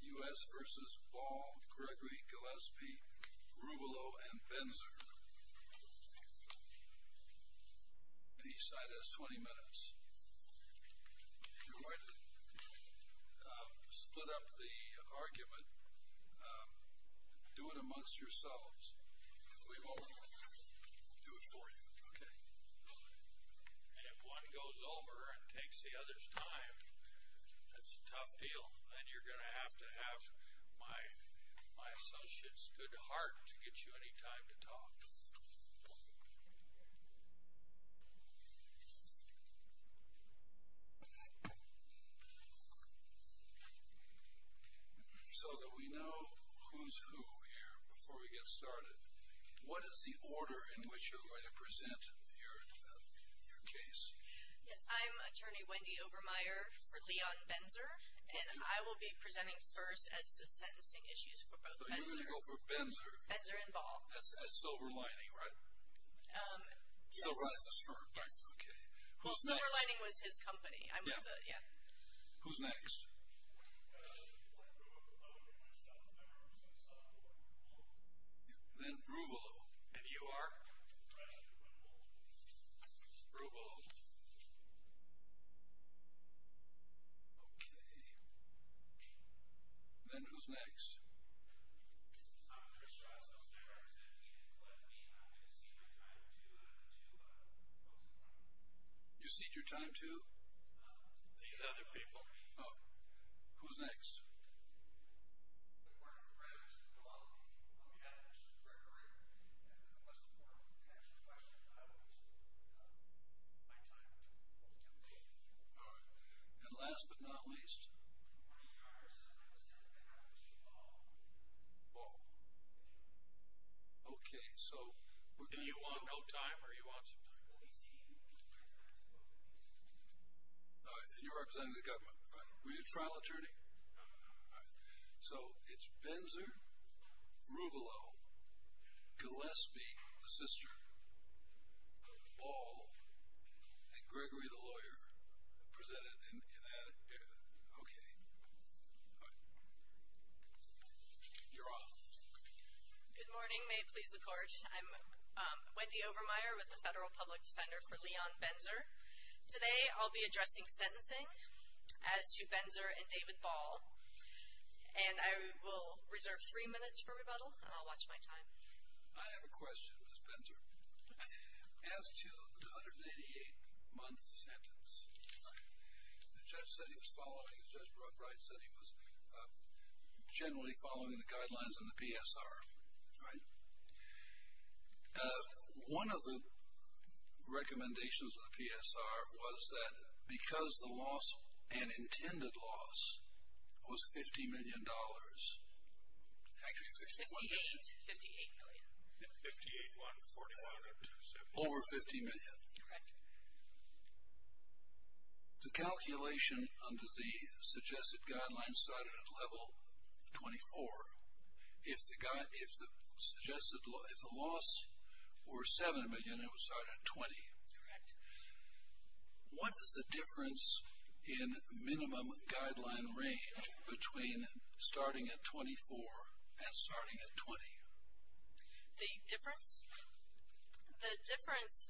U.S. v. Ball, Gregory, Gillespie, Ruvalo, and Benzer Each side has 20 minutes. If you want to split up the argument, do it amongst yourselves. We won't do it for you. And if one goes over and takes the other's time, that's a tough deal. And you're going to have to have my associate's good heart to get you any time to talk. So that we know who's who here before we get started, what is the order in which you're going to present your case? Yes, I'm attorney Wendy Obermeyer for Leon Benzer, and I will be presenting first as to sentencing issues for both Benzer and Ball. That's Silver Lining, right? Silver Lining was his company. Who's next? Then Ruvalo. And you are? Ruvalo. Okay. Then who's next? You cede your time to? You cede your time to? These other people. Oh. Who's next? All right. And last but not least? Ball. Okay. Do you want no time or do you want some time? All right. And you're representing the government, right? Were you a trial attorney? All right. So it's Benzer, Ruvalo, Gillespie, the sister, Ball, and Gregory, the lawyer, presented in that area. Okay. All right. You're off. Good morning. May it please the Court. I'm Wendy Overmyer with the Federal Public Defender for Leon Benzer. Today I'll be addressing sentencing as to Benzer and David Ball, and I will reserve three minutes for rebuttal and I'll watch my time. I have a question, Ms. Benzer. As to the 188-month sentence, the judge said he was following, following the guidelines in the PSR, right? One of the recommendations of the PSR was that because the loss, an intended loss, was $50 million, actually it was $51 million. Fifty-eight. Fifty-eight million. Yeah. Fifty-eight, 148. Over 50 million. Correct. The calculation under the suggested guidelines started at level 24. If the suggested, if the loss were 7 million, it would start at 20. Correct. What is the difference in minimum guideline range between starting at 24 and starting at 20? The difference? The difference,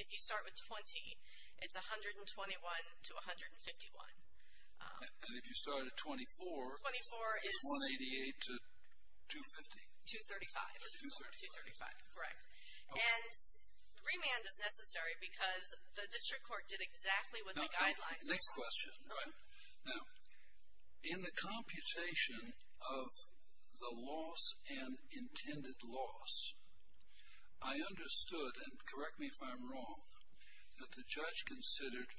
if you start with 20, it's 121 to 151. And if you start at 24, it's 188 to 250? 235. 235. Correct. And remand is necessary because the district court did exactly what the guidelines said. Next question. Go ahead. Now, in the computation of the loss and intended loss, I understood, and correct me if I'm wrong, that the judge considered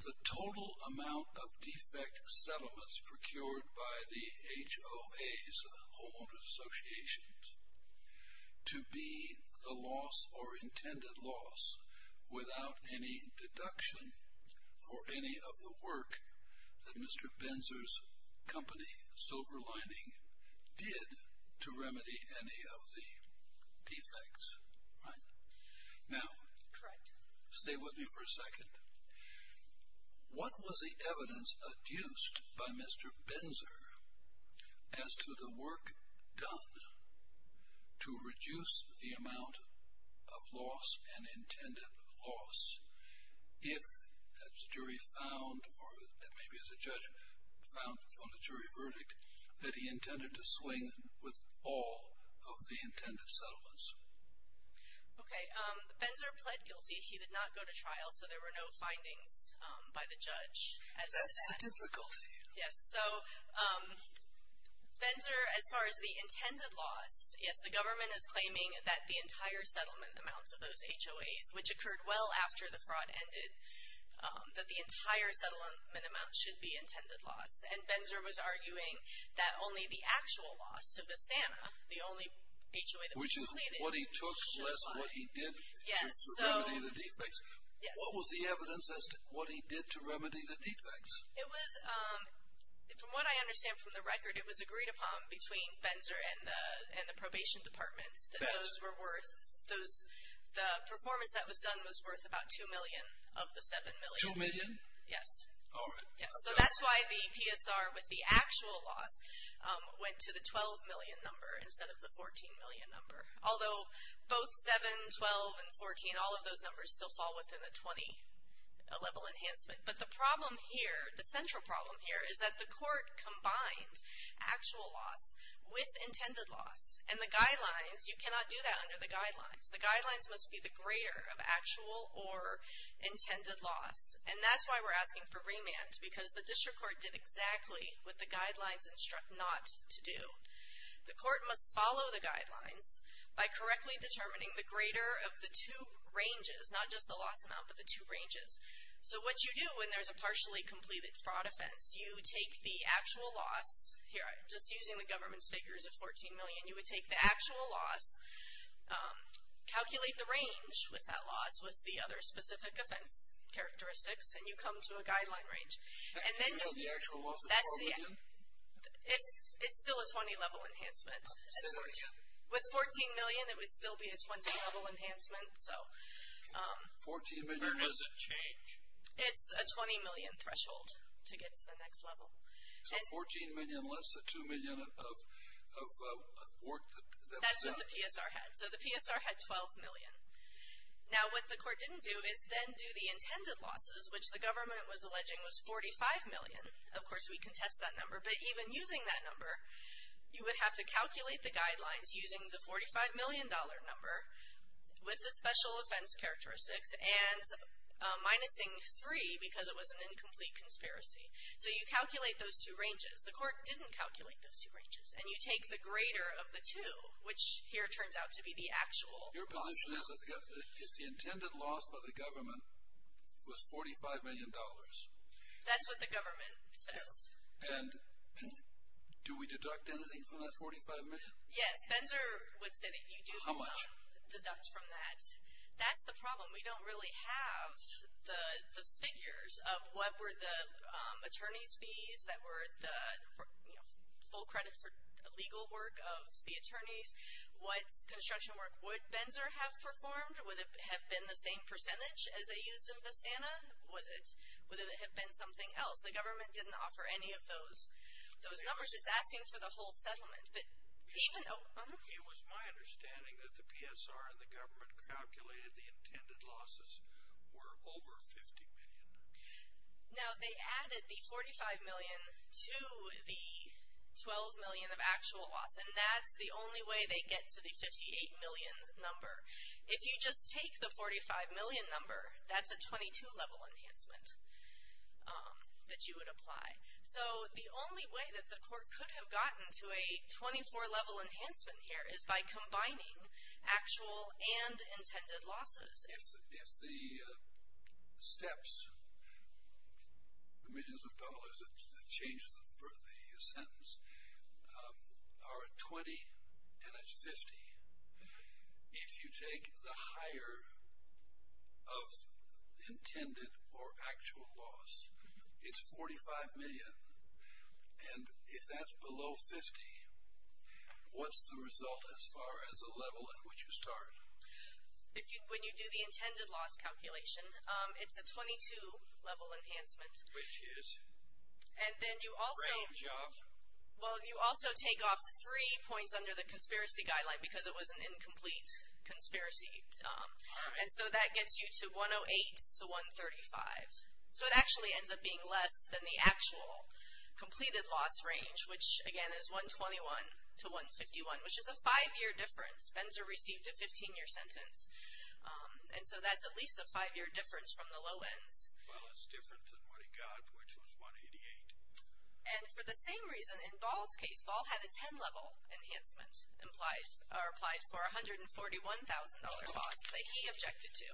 the total amount of defect settlements procured by the HOAs, homeowners associations, to be the loss or intended loss without any deduction for any of the work that Mr. Benzer's company, Silver Lining, did to remedy any of the defects. Right? Now. Correct. Stay with me for a second. What was the evidence adduced by Mr. Benzer as to the work done to reduce the amount of loss and intended loss if, as the jury found, or maybe as the judge found from the jury verdict, that he intended to swing with all of the intended settlements? Okay. Benzer pled guilty. He did not go to trial, so there were no findings by the judge. That's the difficulty. Yes. So, Benzer, as far as the intended loss, yes, the government is claiming that the entire settlement amounts of those HOAs, which occurred well after the fraud ended, that the entire settlement amount should be intended loss. And Benzer was arguing that only the actual loss to Vistana, the only HOA that was completed, should apply. Which is what he took less than what he did to remedy the defects. Yes. What was the evidence as to what he did to remedy the defects? It was, from what I understand from the record, it was agreed upon between Benzer and the probation department that those were worth, the performance that was done was worth about $2 million of the $7 million. $2 million? Yes. All right. So that's why the PSR with the actual loss went to the $12 million number instead of the $14 million number. Although both $7, $12, and $14, all of those numbers still fall within the $20 level enhancement. But the problem here, the central problem here, is that the court combined actual loss with intended loss. And the guidelines, you cannot do that under the guidelines. The guidelines must be the greater of actual or intended loss. And that's why we're asking for remand, because the district court did exactly what the guidelines instruct not to do. The court must follow the guidelines by correctly determining the greater of the two ranges, not just the loss amount, but the two ranges. So what you do when there's a partially completed fraud offense, you take the actual loss, here, just using the government's figures of $14 million, you would take the actual loss, calculate the range with that loss, with the other specific offense characteristics, and you come to a guideline range. And then you'll be able to. The actual loss is $14 million? It's still a $20 level enhancement. With $14 million, it would still be a $20 level enhancement. Where does it change? It's a $20 million threshold to get to the next level. So $14 million less the $2 million of work that was done? That's what the PSR had. So the PSR had $12 million. Now what the court didn't do is then do the intended losses, which the government was alleging was $45 million. Of course, we contest that number. But even using that number, you would have to calculate the guidelines using the $45 million number with the special offense characteristics and minusing 3 because it was an incomplete conspiracy. So you calculate those two ranges. The court didn't calculate those two ranges. And you take the greater of the two, which here turns out to be the actual. Your position is that the intended loss by the government was $45 million. That's what the government says. And do we deduct anything from that $45 million? Yes, Benzer would say that you do deduct. How much? Deduct from that. That's the problem. We don't really have the figures of what were the attorney's fees that were the full credit for legal work of the attorneys. What construction work would Benzer have performed? Would it have been the same percentage as they used in Vistana? Would it have been something else? The government didn't offer any of those numbers. It's asking for the whole settlement. It was my understanding that the PSR and the government calculated the intended losses were over $50 million. Now, they added the $45 million to the $12 million of actual loss, and that's the only way they get to the $58 million number. If you just take the $45 million number, that's a 22-level enhancement that you would apply. So the only way that the court could have gotten to a 24-level enhancement here is by combining actual and intended losses. If the steps, the millions of dollars that change the sentence, are at $20 and it's $50, if you take the higher of intended or actual loss, it's $45 million, and if that's below $50, what's the result as far as the level at which you start? When you do the intended loss calculation, it's a 22-level enhancement. Which is? And then you also take off three points under the conspiracy guideline because it was an incomplete conspiracy. And so that gets you to $108 to $135. So it actually ends up being less than the actual completed loss range, which, again, is $121 to $151, which is a five-year difference. Benzer received a 15-year sentence. And so that's at least a five-year difference from the low ends. Well, it's different than what he got, which was $188. And for the same reason, in Ball's case, Ball had a 10-level enhancement applied for a $141,000 loss that he objected to.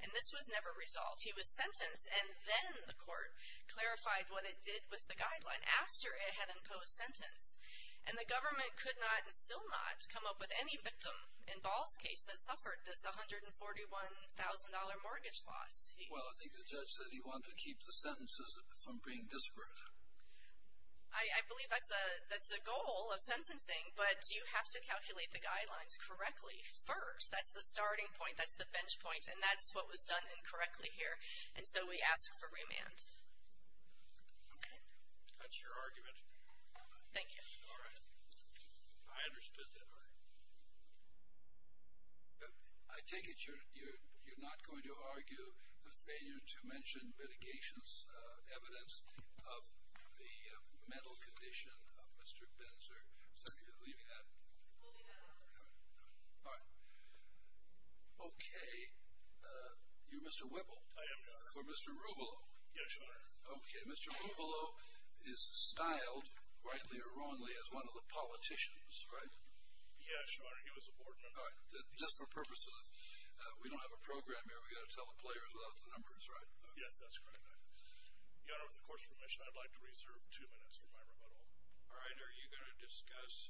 And this was never resolved. He was sentenced, and then the court clarified what it did with the guideline after it had imposed sentence. And the government could not and still not come up with any victim in Ball's case that suffered this $141,000 mortgage loss. Well, I think the judge said he wanted to keep the sentences from being disparate. I believe that's a goal of sentencing, but you have to calculate the guidelines correctly first. That's the starting point. That's the bench point. And that's what was done incorrectly here. And so we ask for remand. Okay. That's your argument. Thank you. All right. I understood that. All right. I take it you're not going to argue the failure to mention litigation's evidence of the mental condition of Mr. Benzer. So you're leaving that? We'll leave that out. All right. Okay. You're Mr. Whipple. I am, Your Honor. For Mr. Ruvalo. Yes, Your Honor. Okay. Mr. Ruvalo is styled, rightly or wrongly, as one of the politicians, right? Yes, Your Honor. He was a board member. All right. Just for purposes of, we don't have a program here. We've got to tell the players about the numbers, right? Yes, that's correct. Your Honor, with the court's permission, I'd like to reserve two minutes for my rebuttal. All right. Are you going to discuss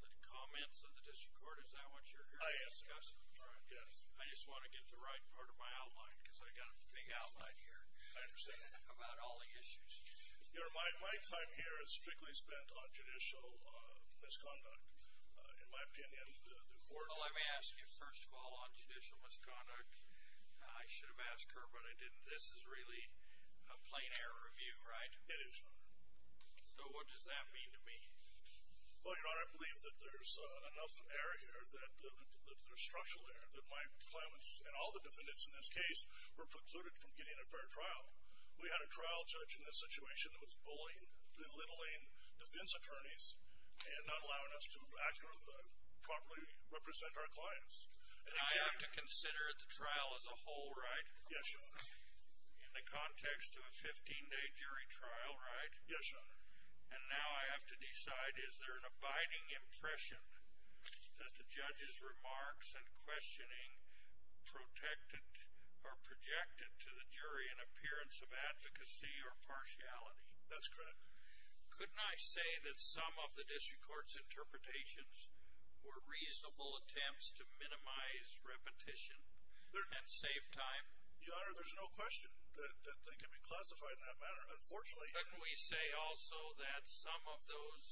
the comments of the district court? Is that what you're here to discuss? I am. All right. Yes. I just want to get the right part of my outline because I've got a big outline here. I understand. About all the issues. Your Honor, my time here is strictly spent on judicial misconduct. In my opinion, the court- Well, let me ask you, first of all, on judicial misconduct. I should have asked her, but I didn't. This is really a plain error of view, right? It is, Your Honor. So what does that mean to me? Well, Your Honor, I believe that there's enough error here that there's structural error. That my claimants and all the defendants in this case were precluded from getting a fair trial. We had a trial judge in this situation that was bullying, belittling defense attorneys and not allowing us to properly represent our clients. And I have to consider the trial as a whole, right? Yes, Your Honor. In the context of a 15-day jury trial, right? Yes, Your Honor. And now I have to decide, is there an abiding impression that the judge's remarks and questioning protected or projected to the jury an appearance of advocacy or partiality? That's correct. Couldn't I say that some of the district court's interpretations were reasonable attempts to minimize repetition and save time? Your Honor, there's no question that they can be classified in that manner. Unfortunately- Couldn't I say also that some of those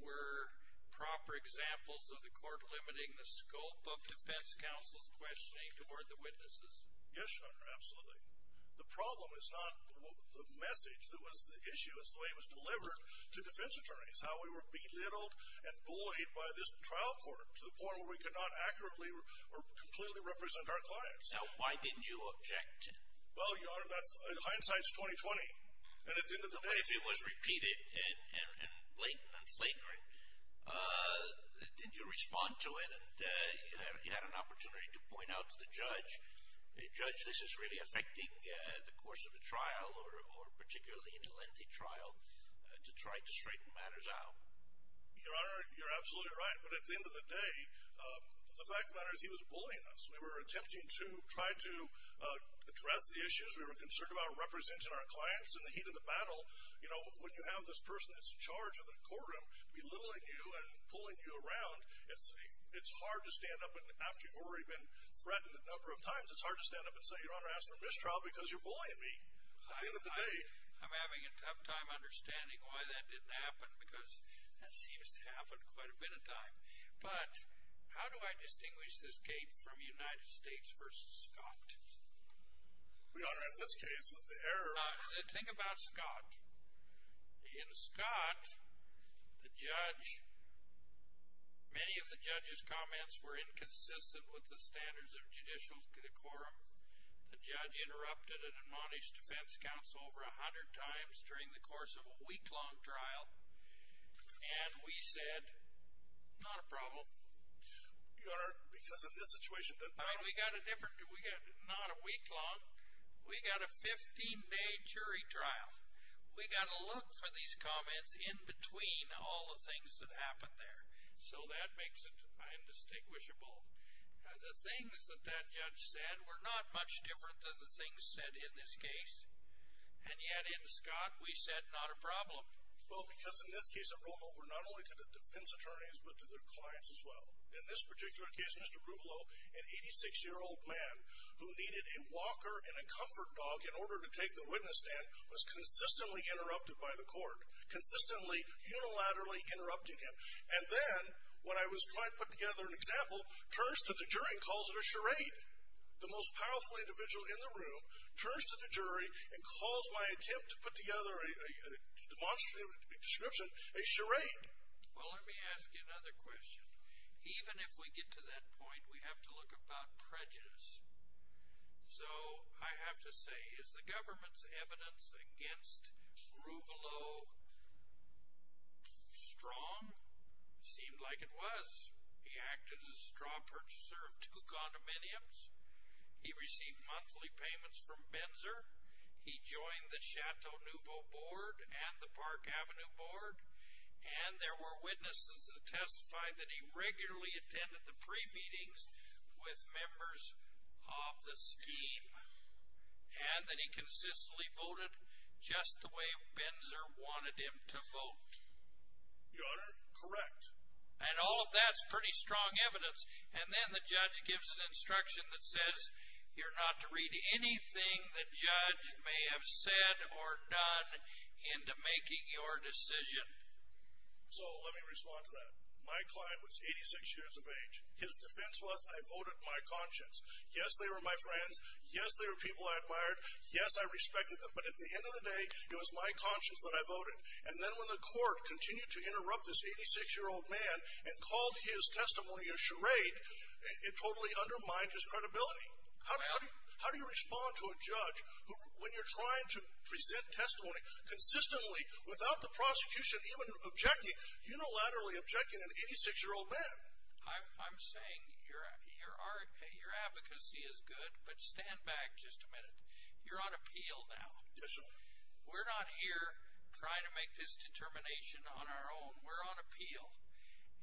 were proper examples of the court limiting the scope of defense counsel's questioning toward the witnesses? Yes, Your Honor, absolutely. The problem is not the message that was the issue. It's the way it was delivered to defense attorneys, how we were belittled and bullied by this trial court to the point where we could not accurately or completely represent our clients. Now, why didn't you object? Well, Your Honor, hindsight's 20-20. And at the end of the day- The way it was repeated and blatant and flagrant, did you respond to it? And you had an opportunity to point out to the judge, Judge, this is really affecting the course of the trial or particularly in a lengthy trial to try to straighten matters out. Your Honor, you're absolutely right. But at the end of the day, the fact of the matter is he was bullying us. We were attempting to try to address the issues. We were concerned about representing our clients in the heat of the battle. You know, when you have this person that's in charge of the courtroom belittling you and pulling you around, it's hard to stand up after you've already been threatened a number of times. It's hard to stand up and say, Your Honor, ask for mistrial because you're bullying me. At the end of the day- I'm having a tough time understanding why that didn't happen because that seems to happen quite a bit of time. But how do I distinguish this gate from United States v. Scott? Your Honor, in this case, the error- Think about Scott. In Scott, the judge- many of the judge's comments were inconsistent with the standards of judicial decorum. The judge interrupted an admonished defense counsel over a hundred times during the course of a week-long trial. And we said, not a problem. Your Honor, because of this situation- Not a week long. We got a 15-day jury trial. We got to look for these comments in between all the things that happened there. So that makes it indistinguishable. The things that that judge said were not much different than the things said in this case. And yet, in Scott, we said, not a problem. Well, because in this case, it rolled over not only to the defense attorneys, but to their clients as well. In this particular case, Mr. Gruvelo, an 86-year-old man who needed a walker and a comfort dog in order to take the witness stand, was consistently interrupted by the court. Consistently, unilaterally interrupting him. And then, when I was trying to put together an example, turns to the jury and calls it a charade. The most powerful individual in the room turns to the jury and calls my attempt to put together a demonstrative description a charade. Well, let me ask you another question. Even if we get to that point, we have to look about prejudice. So, I have to say, is the government's evidence against Gruvelo strong? It seemed like it was. He acted as a straw purchaser of two condominiums. He received monthly payments from Benzer. He joined the Chateau Nouveau board and the Park Avenue board. And there were witnesses that testified that he regularly attended the pre-meetings with members of the scheme. And that he consistently voted just the way Benzer wanted him to vote. Your Honor, correct. And all of that's pretty strong evidence. And then the judge gives an instruction that says, you're not to read anything the judge may have said or done into making your decision. So, let me respond to that. My client was 86 years of age. His defense was, I voted my conscience. Yes, they were my friends. Yes, they were people I admired. Yes, I respected them. But, at the end of the day, it was my conscience that I voted. And then when the court continued to interrupt this 86-year-old man and called his testimony a charade, it totally undermined his credibility. How do you respond to a judge when you're trying to present testimony consistently without the prosecution even objecting, unilaterally objecting an 86-year-old man? I'm saying your advocacy is good, but stand back just a minute. You're on appeal now. Yes, Your Honor. We're not here trying to make this determination on our own. We're on appeal.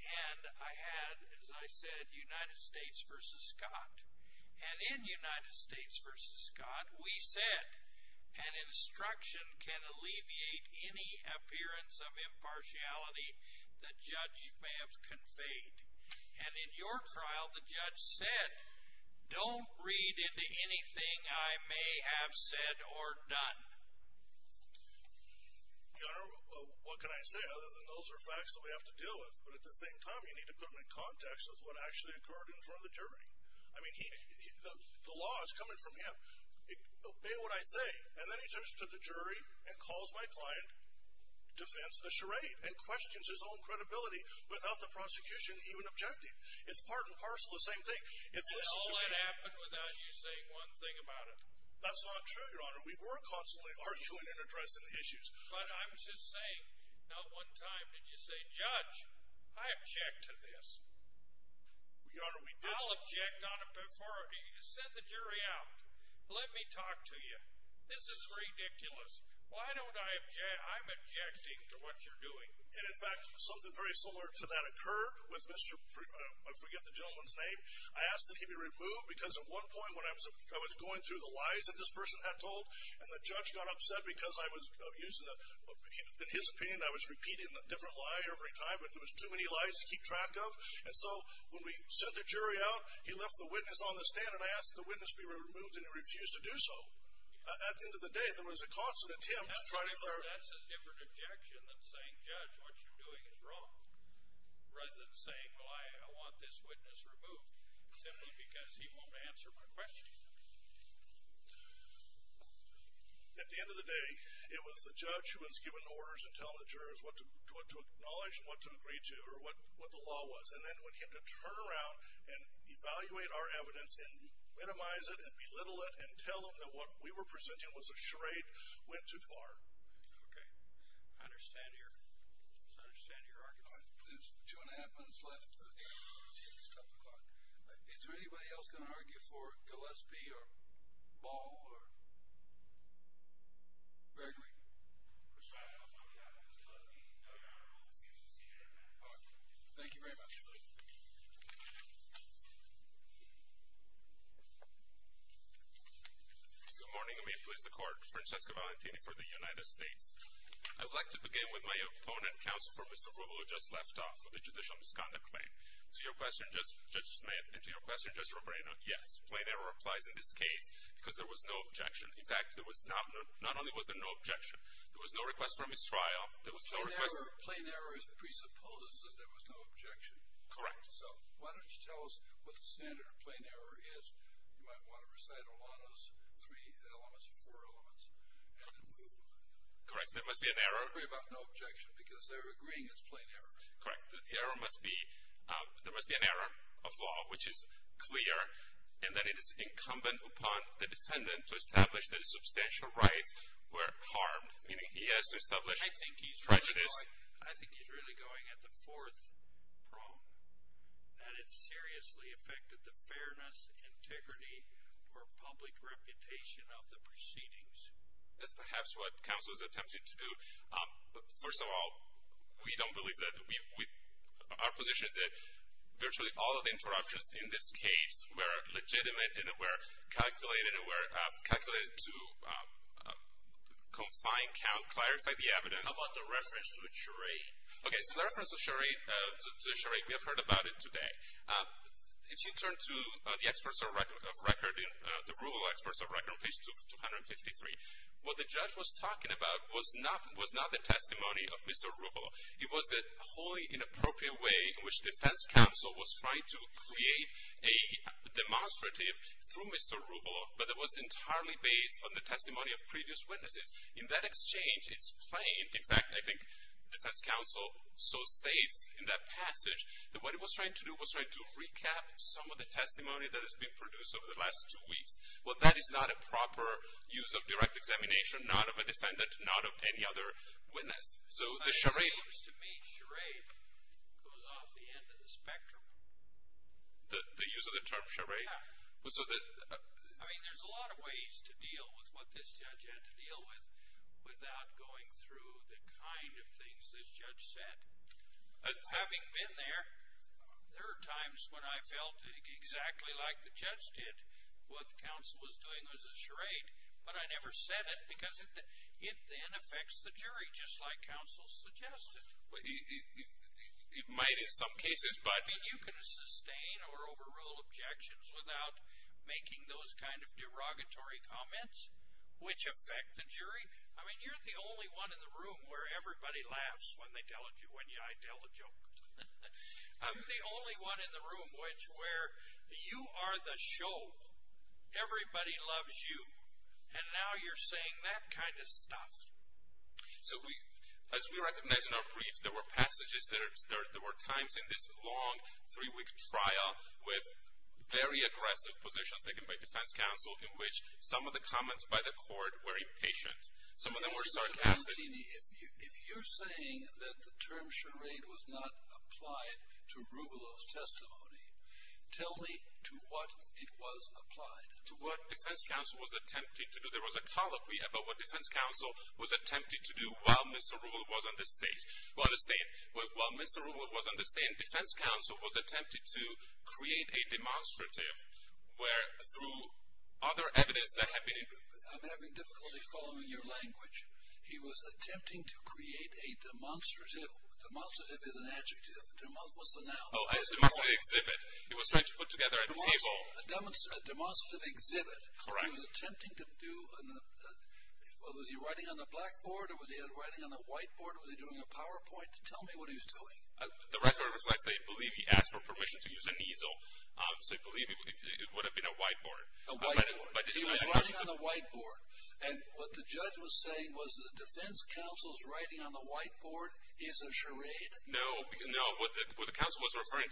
And I had, as I said, United States v. Scott. And in United States v. Scott, we said an instruction can alleviate any appearance of impartiality the judge may have conveyed. And in your trial, the judge said, don't read into anything I may have said or done. Your Honor, what can I say? Those are facts that we have to deal with. But at the same time, you need to put them in context with what actually occurred in front of the jury. I mean, the law is coming from him. Obey what I say. And then he turns to the jury and calls my client defense a charade and questions his own credibility without the prosecution even objecting. It's part and parcel the same thing. It's listen to me. And all that happened without you saying one thing about it. That's not true, Your Honor. We were constantly arguing and addressing the issues. But I'm just saying, not one time did you say, judge, I object to this. Your Honor, we did. I'll object on it before. Send the jury out. Let me talk to you. This is ridiculous. Why don't I object? I'm objecting to what you're doing. And, in fact, something very similar to that occurred with Mr. I forget the gentleman's name. I asked that he be removed because at one point when I was going through the lies that this person had told and the judge got upset because I was using, in his opinion, I was repeating a different lie every time. It was too many lies to keep track of. And so when we sent the jury out, he left the witness on the stand and asked the witness to be removed, and he refused to do so. At the end of the day, there was a constant attempt to try to learn. That's a different objection than saying, judge, what you're doing is wrong, rather than saying, well, I want this witness removed simply because he won't answer my questions. At the end of the day, it was the judge who was giving orders and telling the jurors what to acknowledge and what to agree to or what the law was. And then when he had to turn around and evaluate our evidence and minimize it and belittle it and tell them that what we were presenting was a charade went too far. Okay. I understand your argument. There's two and a half minutes left. It's a couple o'clock. Is there anybody else going to argue for Gillespie or Ball or Bergery? Mr. Judge, I'll start with you. I think it's Gillespie. No, Your Honor. Excuse me. All right. Thank you very much. Good morning. May it please the Court. Francesco Valentini for the United States. I'd like to begin with my opponent, counsel for Mr. Ruvalo, who just left off with a judicial misconduct claim. To your question, Judge Smith, and to your question, Judge Roberino, yes, plain error applies in this case because there was no objection. In fact, there was not only was there no objection, there was no request for mistrial. There was no request. Plain error presupposes that there was no objection. Correct. So why don't you tell us what the standard of plain error is. You might want to recite a lot of those three elements or four elements. Correct. There must be an error. They agree about no objection because they're agreeing it's plain error. Correct. The error must be there must be an error of law, which is clear, and that it is incumbent upon the defendant to establish that his substantial rights were harmed. Meaning he has to establish prejudice. I think he's really going at the fourth prong, that it seriously affected the fairness, integrity, or public reputation of the proceedings. That's perhaps what counsel is attempting to do. First of all, we don't believe that. Our position is that virtually all of the interruptions in this case were legitimate and were calculated and were calculated to confine, count, clarify the evidence. How about the reference to the charade? Okay, so the reference to the charade, we have heard about it today. If you turn to the experts of record, the rule of experts of record on page 253, what the judge was talking about was not the testimony of Mr. Ruvalo. It was a wholly inappropriate way in which defense counsel was trying to create a demonstrative through Mr. Ruvalo, but it was entirely based on the testimony of previous witnesses. In that exchange, it's plain, in fact, I think defense counsel so states in that passage, that what he was trying to do was trying to recap some of the testimony that has been produced over the last two weeks. Well, that is not a proper use of direct examination, not of a defendant, not of any other witness. So the charade. It seems to me charade goes off the end of the spectrum. The use of the term charade? Yeah. I mean, there's a lot of ways to deal with what this judge had to deal with without going through the kind of things this judge said. Having been there, there are times when I felt exactly like the judge did. What the counsel was doing was a charade, but I never said it because it then affects the jury just like counsel suggested. It might in some cases, but. I mean, you can sustain or overrule objections without making those kind of derogatory comments which affect the jury. I mean, you're the only one in the room where everybody laughs when they tell a joke, when I tell a joke. I'm the only one in the room where you are the show. Everybody loves you. And now you're saying that kind of stuff. So as we recognize in our brief, there were passages, there were times in this long three-week trial with very aggressive positions taken by defense counsel in which some of the comments by the court were impatient. Some of them were sarcastic. Mr. Castini, if you're saying that the term charade was not applied to Ruvalo's testimony, tell me to what it was applied. To what defense counsel was attempting to do. There was a colloquy about what defense counsel was attempting to do while Mr. Ruvalo was on the stand. Defense counsel was attempting to create a demonstrative where through other evidence that had been. I'm having difficulty following your language. He was attempting to create a demonstrative. Demonstrative is an adjective. What's the noun? Demonstrative exhibit. He was trying to put together a table. A demonstrative exhibit. Correct. He was attempting to do. Was he writing on a blackboard or was he writing on a whiteboard? Was he doing a PowerPoint? Tell me what he was doing. The record reflects that I believe he asked for permission to use an easel. So I believe it would have been a whiteboard. A whiteboard. He was writing on a whiteboard. And what the judge was saying was that defense counsel's writing on the whiteboard is a charade? No. No. What the trial court was referring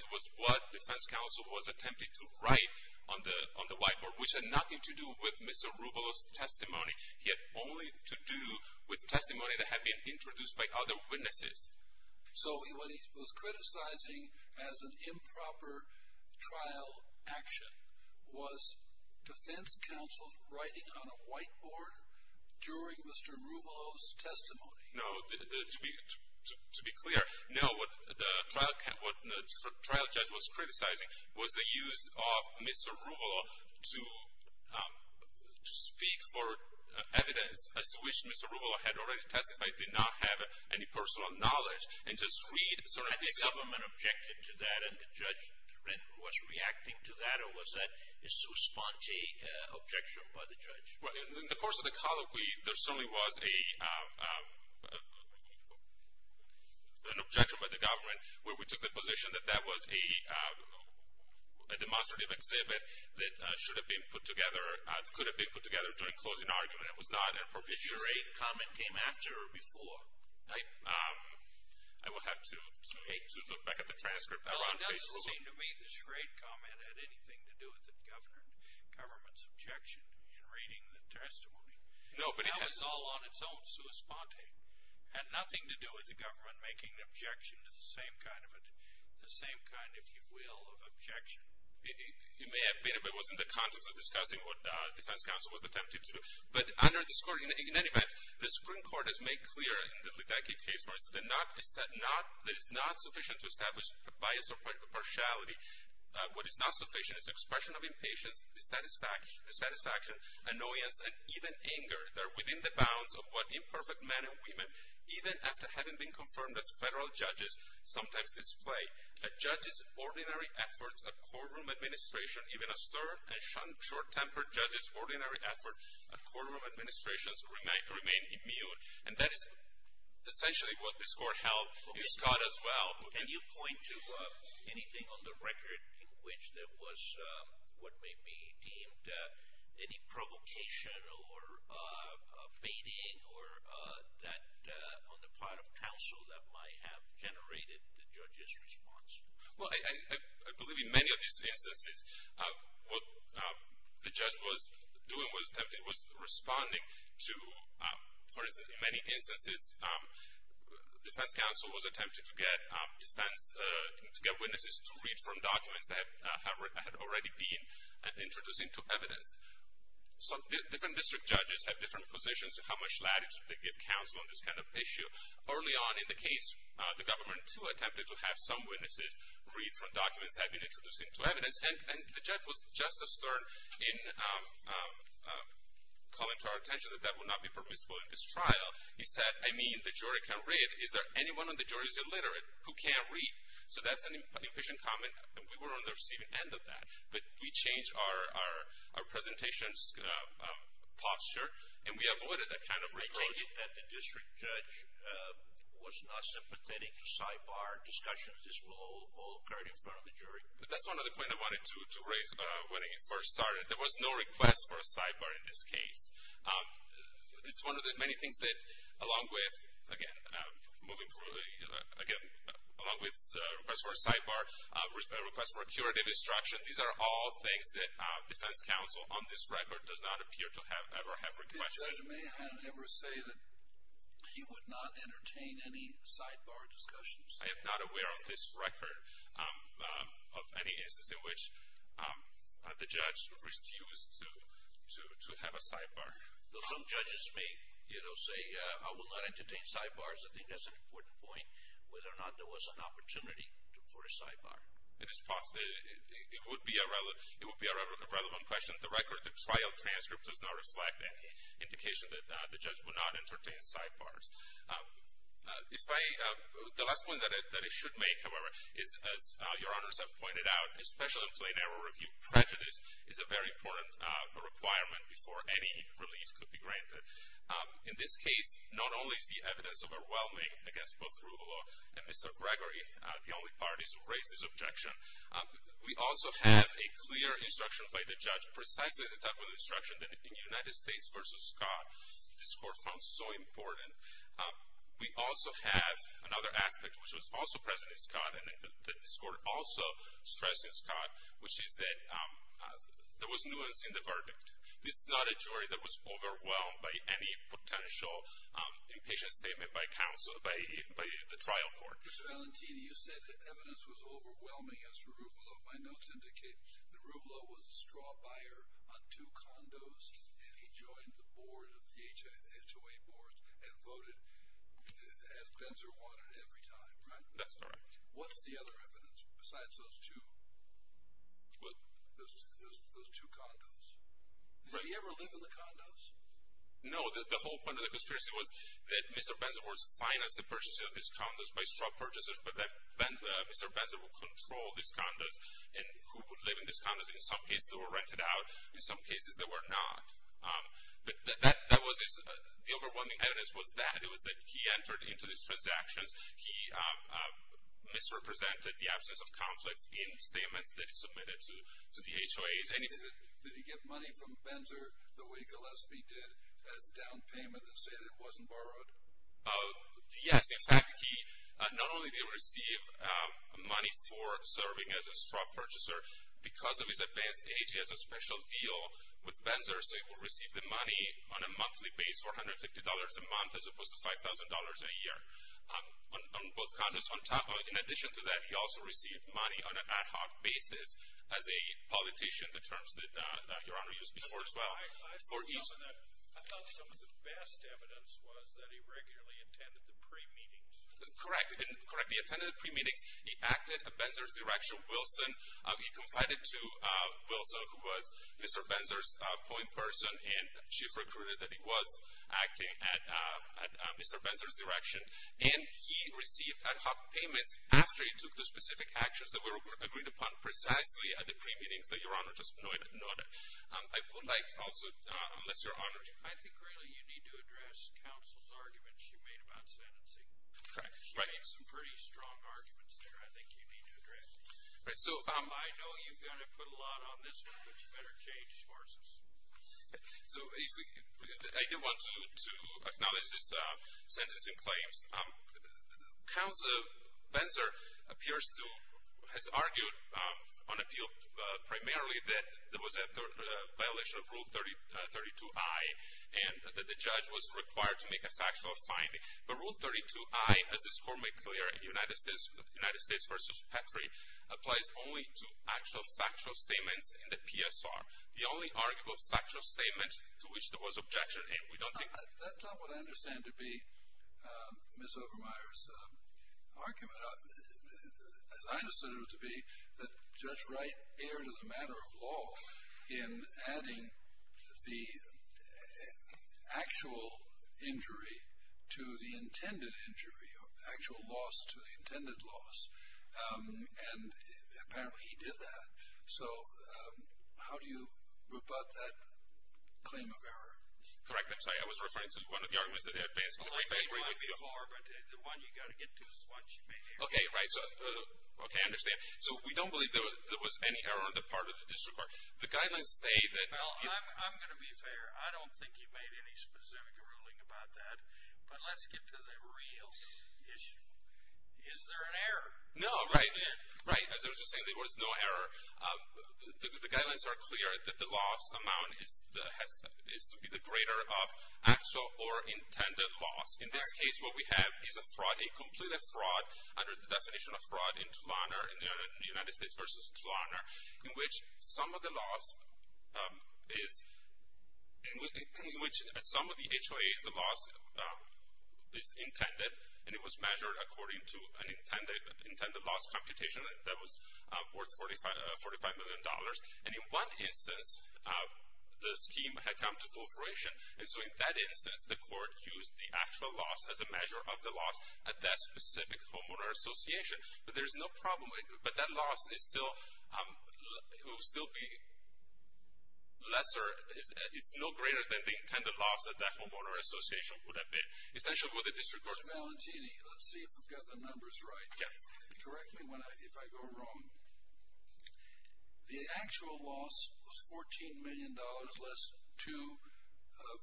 to was what defense counsel was attempting to write on the whiteboard. Which had nothing to do with Mr. Ruvalo's testimony. He had only to do with testimony that had been introduced by other witnesses. So what he was criticizing as an improper trial action was defense counsel's writing on a whiteboard during Mr. Ruvalo's testimony? No. To be clear, no. What the trial judge was criticizing was the use of Mr. Ruvalo to speak for evidence as to which Mr. Ruvalo had already testified, did not have any personal knowledge, and just read certain pieces. Had the government objected to that and the judge was reacting to that? Or was that a sous-sponte objection by the judge? Well, in the course of the colloquy, there certainly was an objection by the government where we took the position that that was a demonstrative exhibit that should have been put together, could have been put together during closing argument. It was not a propitiatory comment. A charade comment came after or before? I will have to look back at the transcript. It doesn't seem to me the charade comment had anything to do with the government's objection in reading the testimony. No, but it had. That was all on its own sous-sponte. It had nothing to do with the government making an objection to the same kind, if you will, of objection. It may have been if it was in the context of discussing what defense counsel was attempting to do. But under this court, in any event, the Supreme Court has made clear in the Lutenki case where it is not sufficient to establish a bias or partiality. What is not sufficient is expression of impatience, dissatisfaction, annoyance, and even anger that are within the bounds of what imperfect men and women, even after having been confirmed as federal judges, sometimes display. A judge's ordinary efforts at courtroom administration, even a stern and short-tempered judge's ordinary efforts at courtroom administration remain immune. And that is essentially what this court held in Scott as well. Can you point to anything on the record in which there was what may be deemed any provocation or baiting on the part of counsel that might have generated the judge's response? Well, I believe in many of these instances, what the judge was doing was responding to, for instance, in many instances, defense counsel was attempting to get witnesses to read from documents that had already been introduced into evidence. So different district judges have different positions on how much latitude they give counsel on this kind of issue. Early on in the case, the government, too, attempted to have some witnesses read from documents that had been introduced into evidence. And the judge was just as stern in calling to our attention that that would not be permissible in this trial. He said, I mean, the jury can read. Is there anyone on the jury who's illiterate who can't read? So that's an impatient comment, and we were on the receiving end of that. But we changed our presentation's posture, and we avoided that kind of retake. The judge noted that the district judge was not sympathetic to sidebar discussions. This will all occur in front of the jury. But that's one of the points I wanted to raise when he first started. There was no request for a sidebar in this case. It's one of the many things that, along with, again, moving forward, again, along with request for a sidebar, request for curative instruction, these are all things that defense counsel on this record does not appear to have ever have requested. Judge, may I never say that he would not entertain any sidebar discussions? I am not aware of this record of any instance in which the judge refused to have a sidebar. Though some judges may say, I will not entertain sidebars. I think that's an important point, whether or not there was an opportunity for a sidebar. It is possible. It would be a relevant question. On the record, the trial transcript does not reflect any indication that the judge would not entertain sidebars. The last point that I should make, however, is, as your honors have pointed out, especially in plain error review, prejudice is a very important requirement before any release could be granted. In this case, not only is the evidence overwhelming against both Ruvalo and Mr. Gregory, the only parties who raised this objection, we also have a clear instruction by the judge, precisely the type of instruction that in United States v. Scott, this court found so important. We also have another aspect, which was also present in Scott, and that this court also stressed in Scott, which is that there was nuance in the verdict. This is not a jury that was overwhelmed by any potential impatient statement by counsel, by the trial court. Mr. Valentini, you said that evidence was overwhelming against Ruvalo. My notes indicate that Ruvalo was a straw buyer on two condos, and he joined the board of the HOA board and voted as Benzer wanted every time, right? That's correct. What's the other evidence besides those two condos? Did he ever live in the condos? No. The whole point of the conspiracy was that Mr. Benzer would finance the purchasing of these condos by straw purchasers, but that Mr. Benzer would control these condos, and who would live in these condos. In some cases, they were rented out. In some cases, they were not. The overwhelming evidence was that. It was that he entered into these transactions. He misrepresented the absence of conflicts in statements that he submitted to the HOAs. Mr. Valentini, did he get money from Benzer the way Gillespie did as down payment and say that it wasn't borrowed? Yes. In fact, not only did he receive money for serving as a straw purchaser, because of his advanced age, he has a special deal with Benzer, so he will receive the money on a monthly basis for $150 a month as opposed to $5,000 a year on both condos. In addition to that, he also received money on an ad hoc basis as a politician, the terms that Your Honor used before as well. I thought some of the best evidence was that he regularly attended the pre-meetings. Correct. He attended the pre-meetings. He acted at Benzer's direction. Wilson, he confided to Wilson, who was Mr. Benzer's point person, and she recruited that he was acting at Mr. Benzer's direction, and he received ad hoc payments after he took the specific actions that were agreed upon precisely at the pre-meetings that Your Honor just noted. I would like also, unless Your Honor- I think really you need to address counsel's arguments she made about sentencing. Correct. She made some pretty strong arguments there I think you need to address. So- I know you're going to put a lot on this one, but you better change courses. So I did want to acknowledge this sentencing claims. Benzer appears to have argued on appeal primarily that there was a violation of Rule 32I and that the judge was required to make a factual finding. But Rule 32I, as this court made clear in United States v. Petrie, applies only to actual factual statements in the PSR. The only arguable factual statement to which there was objection, and we don't think- That's not what I understand to be Ms. Obermeier's argument. As I understood it to be, that Judge Wright erred as a matter of law in adding the actual injury to the intended injury, actual loss to the intended loss. And apparently he did that. So how do you rebut that claim of error? Correct. I'm sorry. I was referring to one of the arguments that had passed in the briefing. The one you got to get to is the one she made earlier. Okay, right. Okay, I understand. So we don't believe there was any error on the part of the district court. The guidelines say that- I'm going to be fair. I don't think you made any specific ruling about that. But let's get to the real issue. Is there an error? No, right. As I was just saying, there was no error. The guidelines are clear that the loss amount is to be the greater of actual or intended loss. In this case, what we have is a fraud, a complete fraud, under the definition of fraud in Tulana, in the United States versus Tulana, in which some of the loss is intended, and it was measured according to an intended loss computation that was worth $45 million. And in one instance, the scheme had come to full fruition, and so in that instance the court used the actual loss as a measure of the loss at that specific homeowner association. But there's no problem with it. But that loss will still be lesser. It's no greater than the intended loss at that homeowner association would have been. Essentially, what the district court- Mr. Valentini, let's see if we've got the numbers right. Correct me if I go wrong. The actual loss was $14 million, less two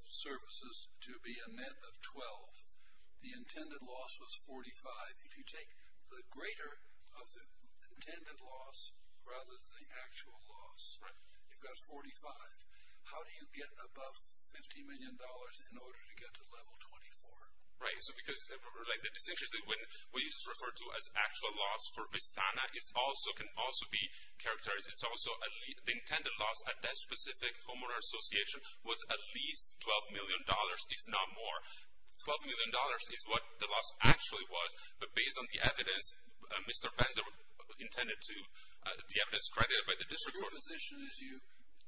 services to be a net of 12. The intended loss was 45. If you take the greater of the intended loss rather than the actual loss, you've got 45. How do you get above $50 million in order to get to level 24? Right. So because, like, the distinctions that we refer to as actual loss for Vistana can also be characterized. It's also the intended loss at that specific homeowner association was at least $12 million, if not more. $12 million is what the loss actually was. But based on the evidence, Mr. Penza intended to-the evidence credited by the district court- Your position is you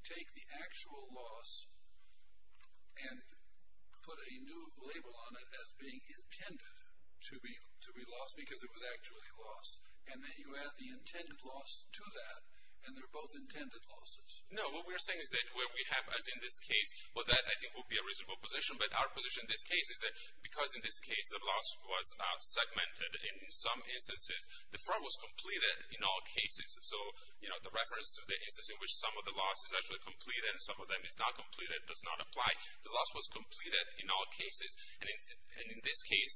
take the actual loss and put a new label on it as being intended to be lost because it was actually lost, and then you add the intended loss to that, and they're both intended losses. No. What we're saying is that where we have, as in this case, well, that I think would be a reasonable position. But our position in this case is that because in this case the loss was segmented in some instances, the firm was completed in all cases. So, you know, the reference to the instance in which some of the loss is actually completed and some of them is not completed, does not apply, the loss was completed in all cases. And in this case,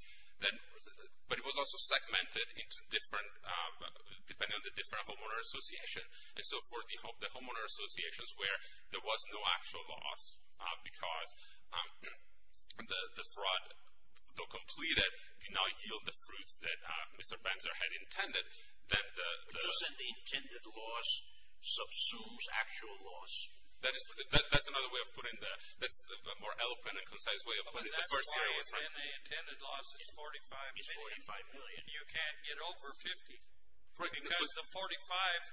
but it was also segmented into different-depending on the different homeowner association. And so for the homeowner associations where there was no actual loss because the fraud, though completed, did not yield the fruits that Mr. Penza had intended, that the- But you said the intended loss subsumes actual loss. That's another way of putting the-that's a more eloquent and concise way of putting it. That's why if the intended loss is $45 million, you can't get over $50. Because the $45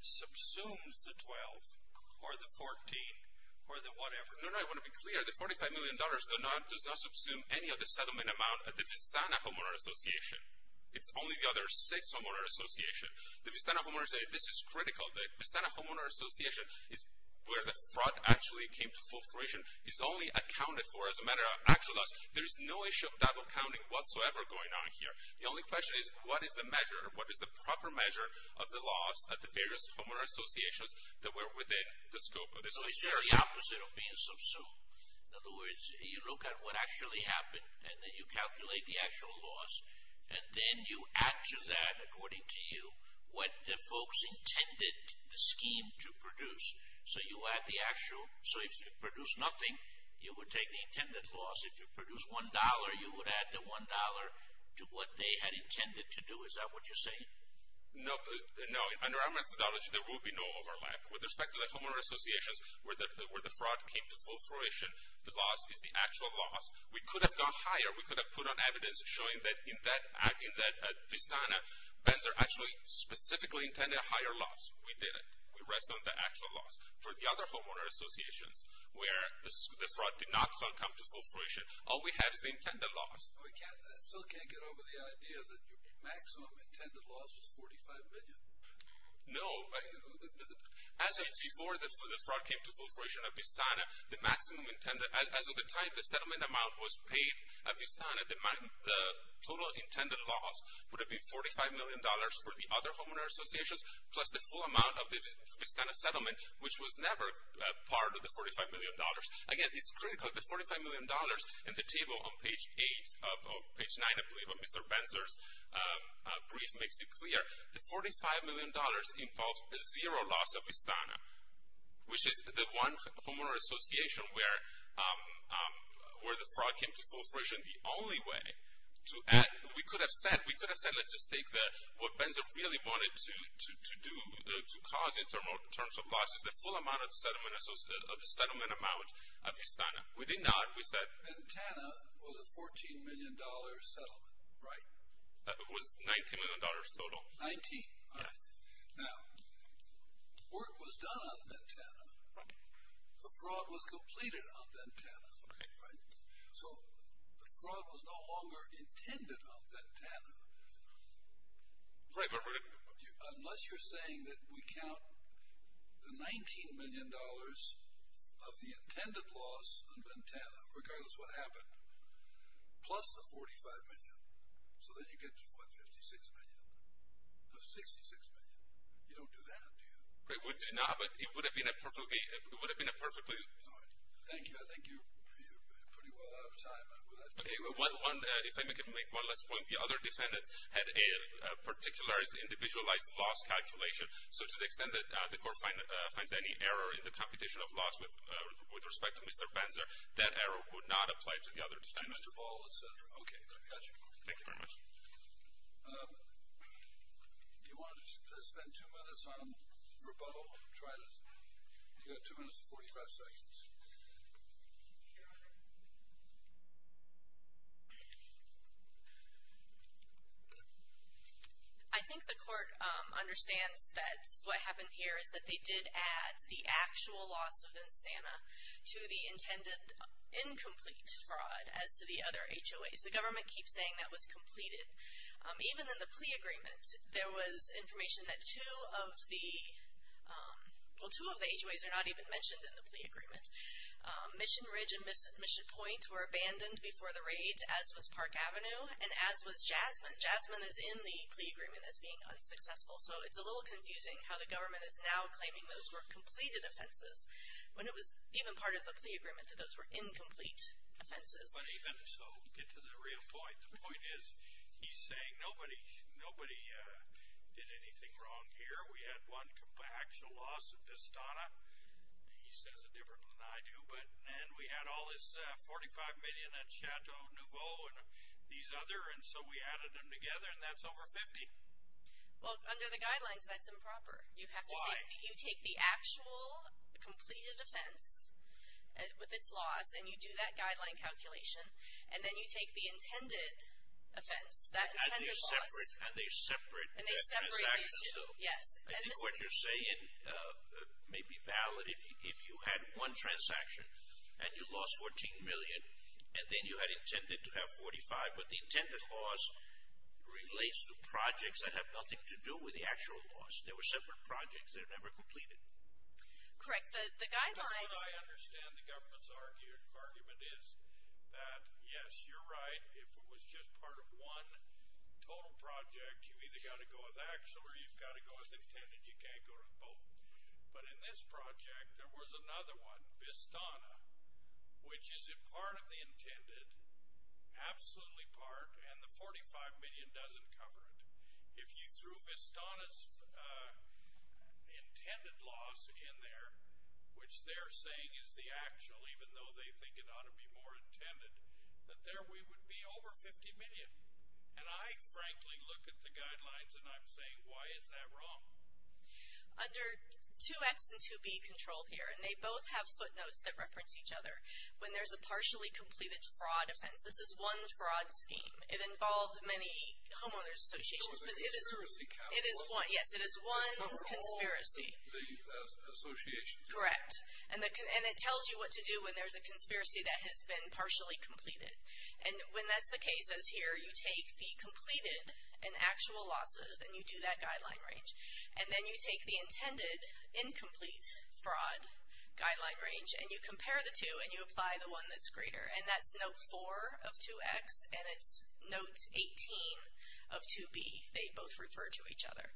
subsumes the $12 or the $14 or the whatever. No, no, I want to be clear. The $45 million does not subsume any of the settlement amount at the Vistana Homeowner Association. It's only the other six homeowner associations. The Vistana Homeowner Association, this is critical. The Vistana Homeowner Association is where the fraud actually came to full fruition. It's only accounted for as a matter of actual loss. There is no issue of double counting whatsoever going on here. The only question is, what is the measure? What is the proper measure of the loss at the various homeowner associations that were within the scope of this- So it's just the opposite of being subsumed. In other words, you look at what actually happened, and then you calculate the actual loss, and then you add to that, according to you, what the folks intended the scheme to produce. So you add the actual-so if you produce nothing, you would take the intended loss. If you produce $1, you would add the $1 to what they had intended to do. Is that what you're saying? No, under our methodology, there would be no overlap. With respect to the homeowner associations where the fraud came to full fruition, the loss is the actual loss. We could have gone higher. We could have put on evidence showing that in that Vistana, Benzer actually specifically intended a higher loss. We didn't. We rested on the actual loss. For the other homeowner associations where the fraud did not come to full fruition, all we have is the intended loss. I still can't get over the idea that your maximum intended loss was $45 million. No. As of before the fraud came to full fruition at Vistana, the maximum intended-as of the time the settlement amount was paid at Vistana, the total intended loss would have been $45 million for the other homeowner associations plus the full amount of the Vistana settlement, which was never part of the $45 million. Again, it's critical. The $45 million in the table on page 8 or page 9, I believe, of Mr. Benzer's brief makes it clear. The $45 million involves zero loss of Vistana, which is the one homeowner association where the fraud came to full fruition. We could have said let's just take what Benzer really wanted to do to cause in terms of losses, the full amount of the settlement amount at Vistana. We did not. We said- Ventana was a $14 million settlement, right? It was $19 million total. Nineteen. Yes. Now, work was done on Ventana. Right. The fraud was completed on Ventana. Okay. Right. So the fraud was no longer intended on Ventana. Right, but- Unless you're saying that we count the $19 million of the intended loss on Ventana, regardless what happened, plus the $45 million, so then you get to, what, $56 million? No, $66 million. You don't do that, do you? No, but it would have been a perfectly- All right. Thank you. I think you're pretty well out of time. Okay, if I may make one last point. The other defendants had a particular individualized loss calculation, so to the extent that the court finds any error in the computation of loss with respect to Mr. Benzer, that error would not apply to the other defendants. Mr. Ball, et cetera. Okay, got you. Thank you very much. You want to spend two minutes on rebuttal? Try this. You've got two minutes and 45 seconds. I think the court understands that what happened here is that they did add the actual loss of Ventana to the intended incomplete fraud as to the other HOAs. The government keeps saying that was completed. Even in the plea agreement, there was information that two of the HOAs are not even mentioned in the plea agreement. Mission Ridge and Mission Point were abandoned before the raids, as was Park Avenue, and as was Jasmine. Jasmine is in the plea agreement as being unsuccessful, so it's a little confusing how the government is now claiming those were completed offenses when it was even part of the plea agreement that those were incomplete offenses. But even so, get to the real point. The point is he's saying nobody did anything wrong here. We had one actual loss of Vestana. He says it different than I do. And we had all this $45 million in Chateau Nouveau and these other, and so we added them together, and that's over $50. Well, under the guidelines, that's improper. Why? You take the actual completed offense with its loss, and you do that guideline calculation, and then you take the intended offense, that intended loss. And they're separate transactions, though. Yes. I think what you're saying may be valid if you had one transaction and you lost $14 million and then you had intended to have $45, but the intended loss relates to projects that have nothing to do with the actual loss. They were separate projects that were never completed. Correct. Because what I understand the government's argument is that, yes, you're right. If it was just part of one total project, you've either got to go with actual or you've got to go with intended. You can't go with both. But in this project, there was another one, Vestana, which is a part of the intended, absolutely part, and the $45 million doesn't cover it. If you threw Vestana's intended loss in there, which they're saying is the actual, even though they think it ought to be more intended, that there would be over $50 million. And I, frankly, look at the guidelines and I'm saying, why is that wrong? Under 2X and 2B control here, and they both have footnotes that reference each other, when there's a partially completed fraud offense, this is one fraud scheme. It involves many homeowners associations. It is one conspiracy. Correct. And it tells you what to do when there's a conspiracy that has been partially completed. And when that's the case, as here, you take the completed and actual losses and you do that guideline range. And then you take the intended incomplete fraud guideline range and you compare the two and you apply the one that's greater. And that's note 4 of 2X and it's note 18 of 2B. They both refer to each other.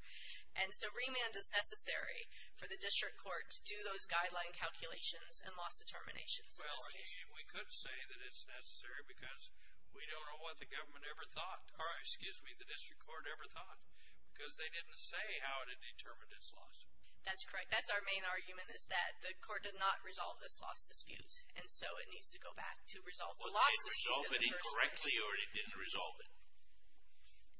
And so remand is necessary for the district court to do those guideline calculations and loss determinations in this case. Well, we could say that it's necessary because we don't know what the government ever thought, or excuse me, the district court ever thought, because they didn't say how it had determined its loss. That's correct. That's our main argument is that the court did not resolve this loss dispute, and so it needs to go back to resolve the loss dispute in the first place. Was it resolved incorrectly or it didn't resolve it?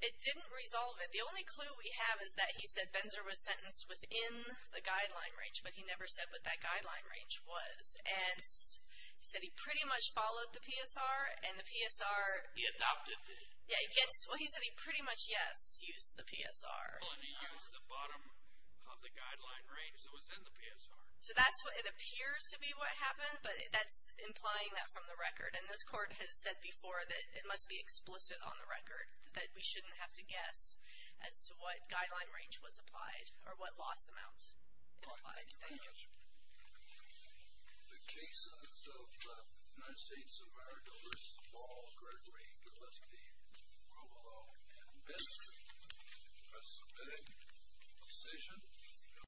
It didn't resolve it. The only clue we have is that he said Benzer was sentenced within the guideline range, but he never said what that guideline range was. And he said he pretty much followed the PSR and the PSR. He adopted it. Yeah, he said he pretty much, yes, used the PSR. Well, and he used the bottom of the guideline range that was in the PSR. So that's what it appears to be what happened, but that's implying that from the record. And this court has said before that it must be explicit on the record, that we shouldn't have to guess as to what guideline range was applied or what loss amount was applied. Thank you. Thank you very much. The case of the United States of America v. Ball, Gregory Gillespie, rule of law in this preceding session.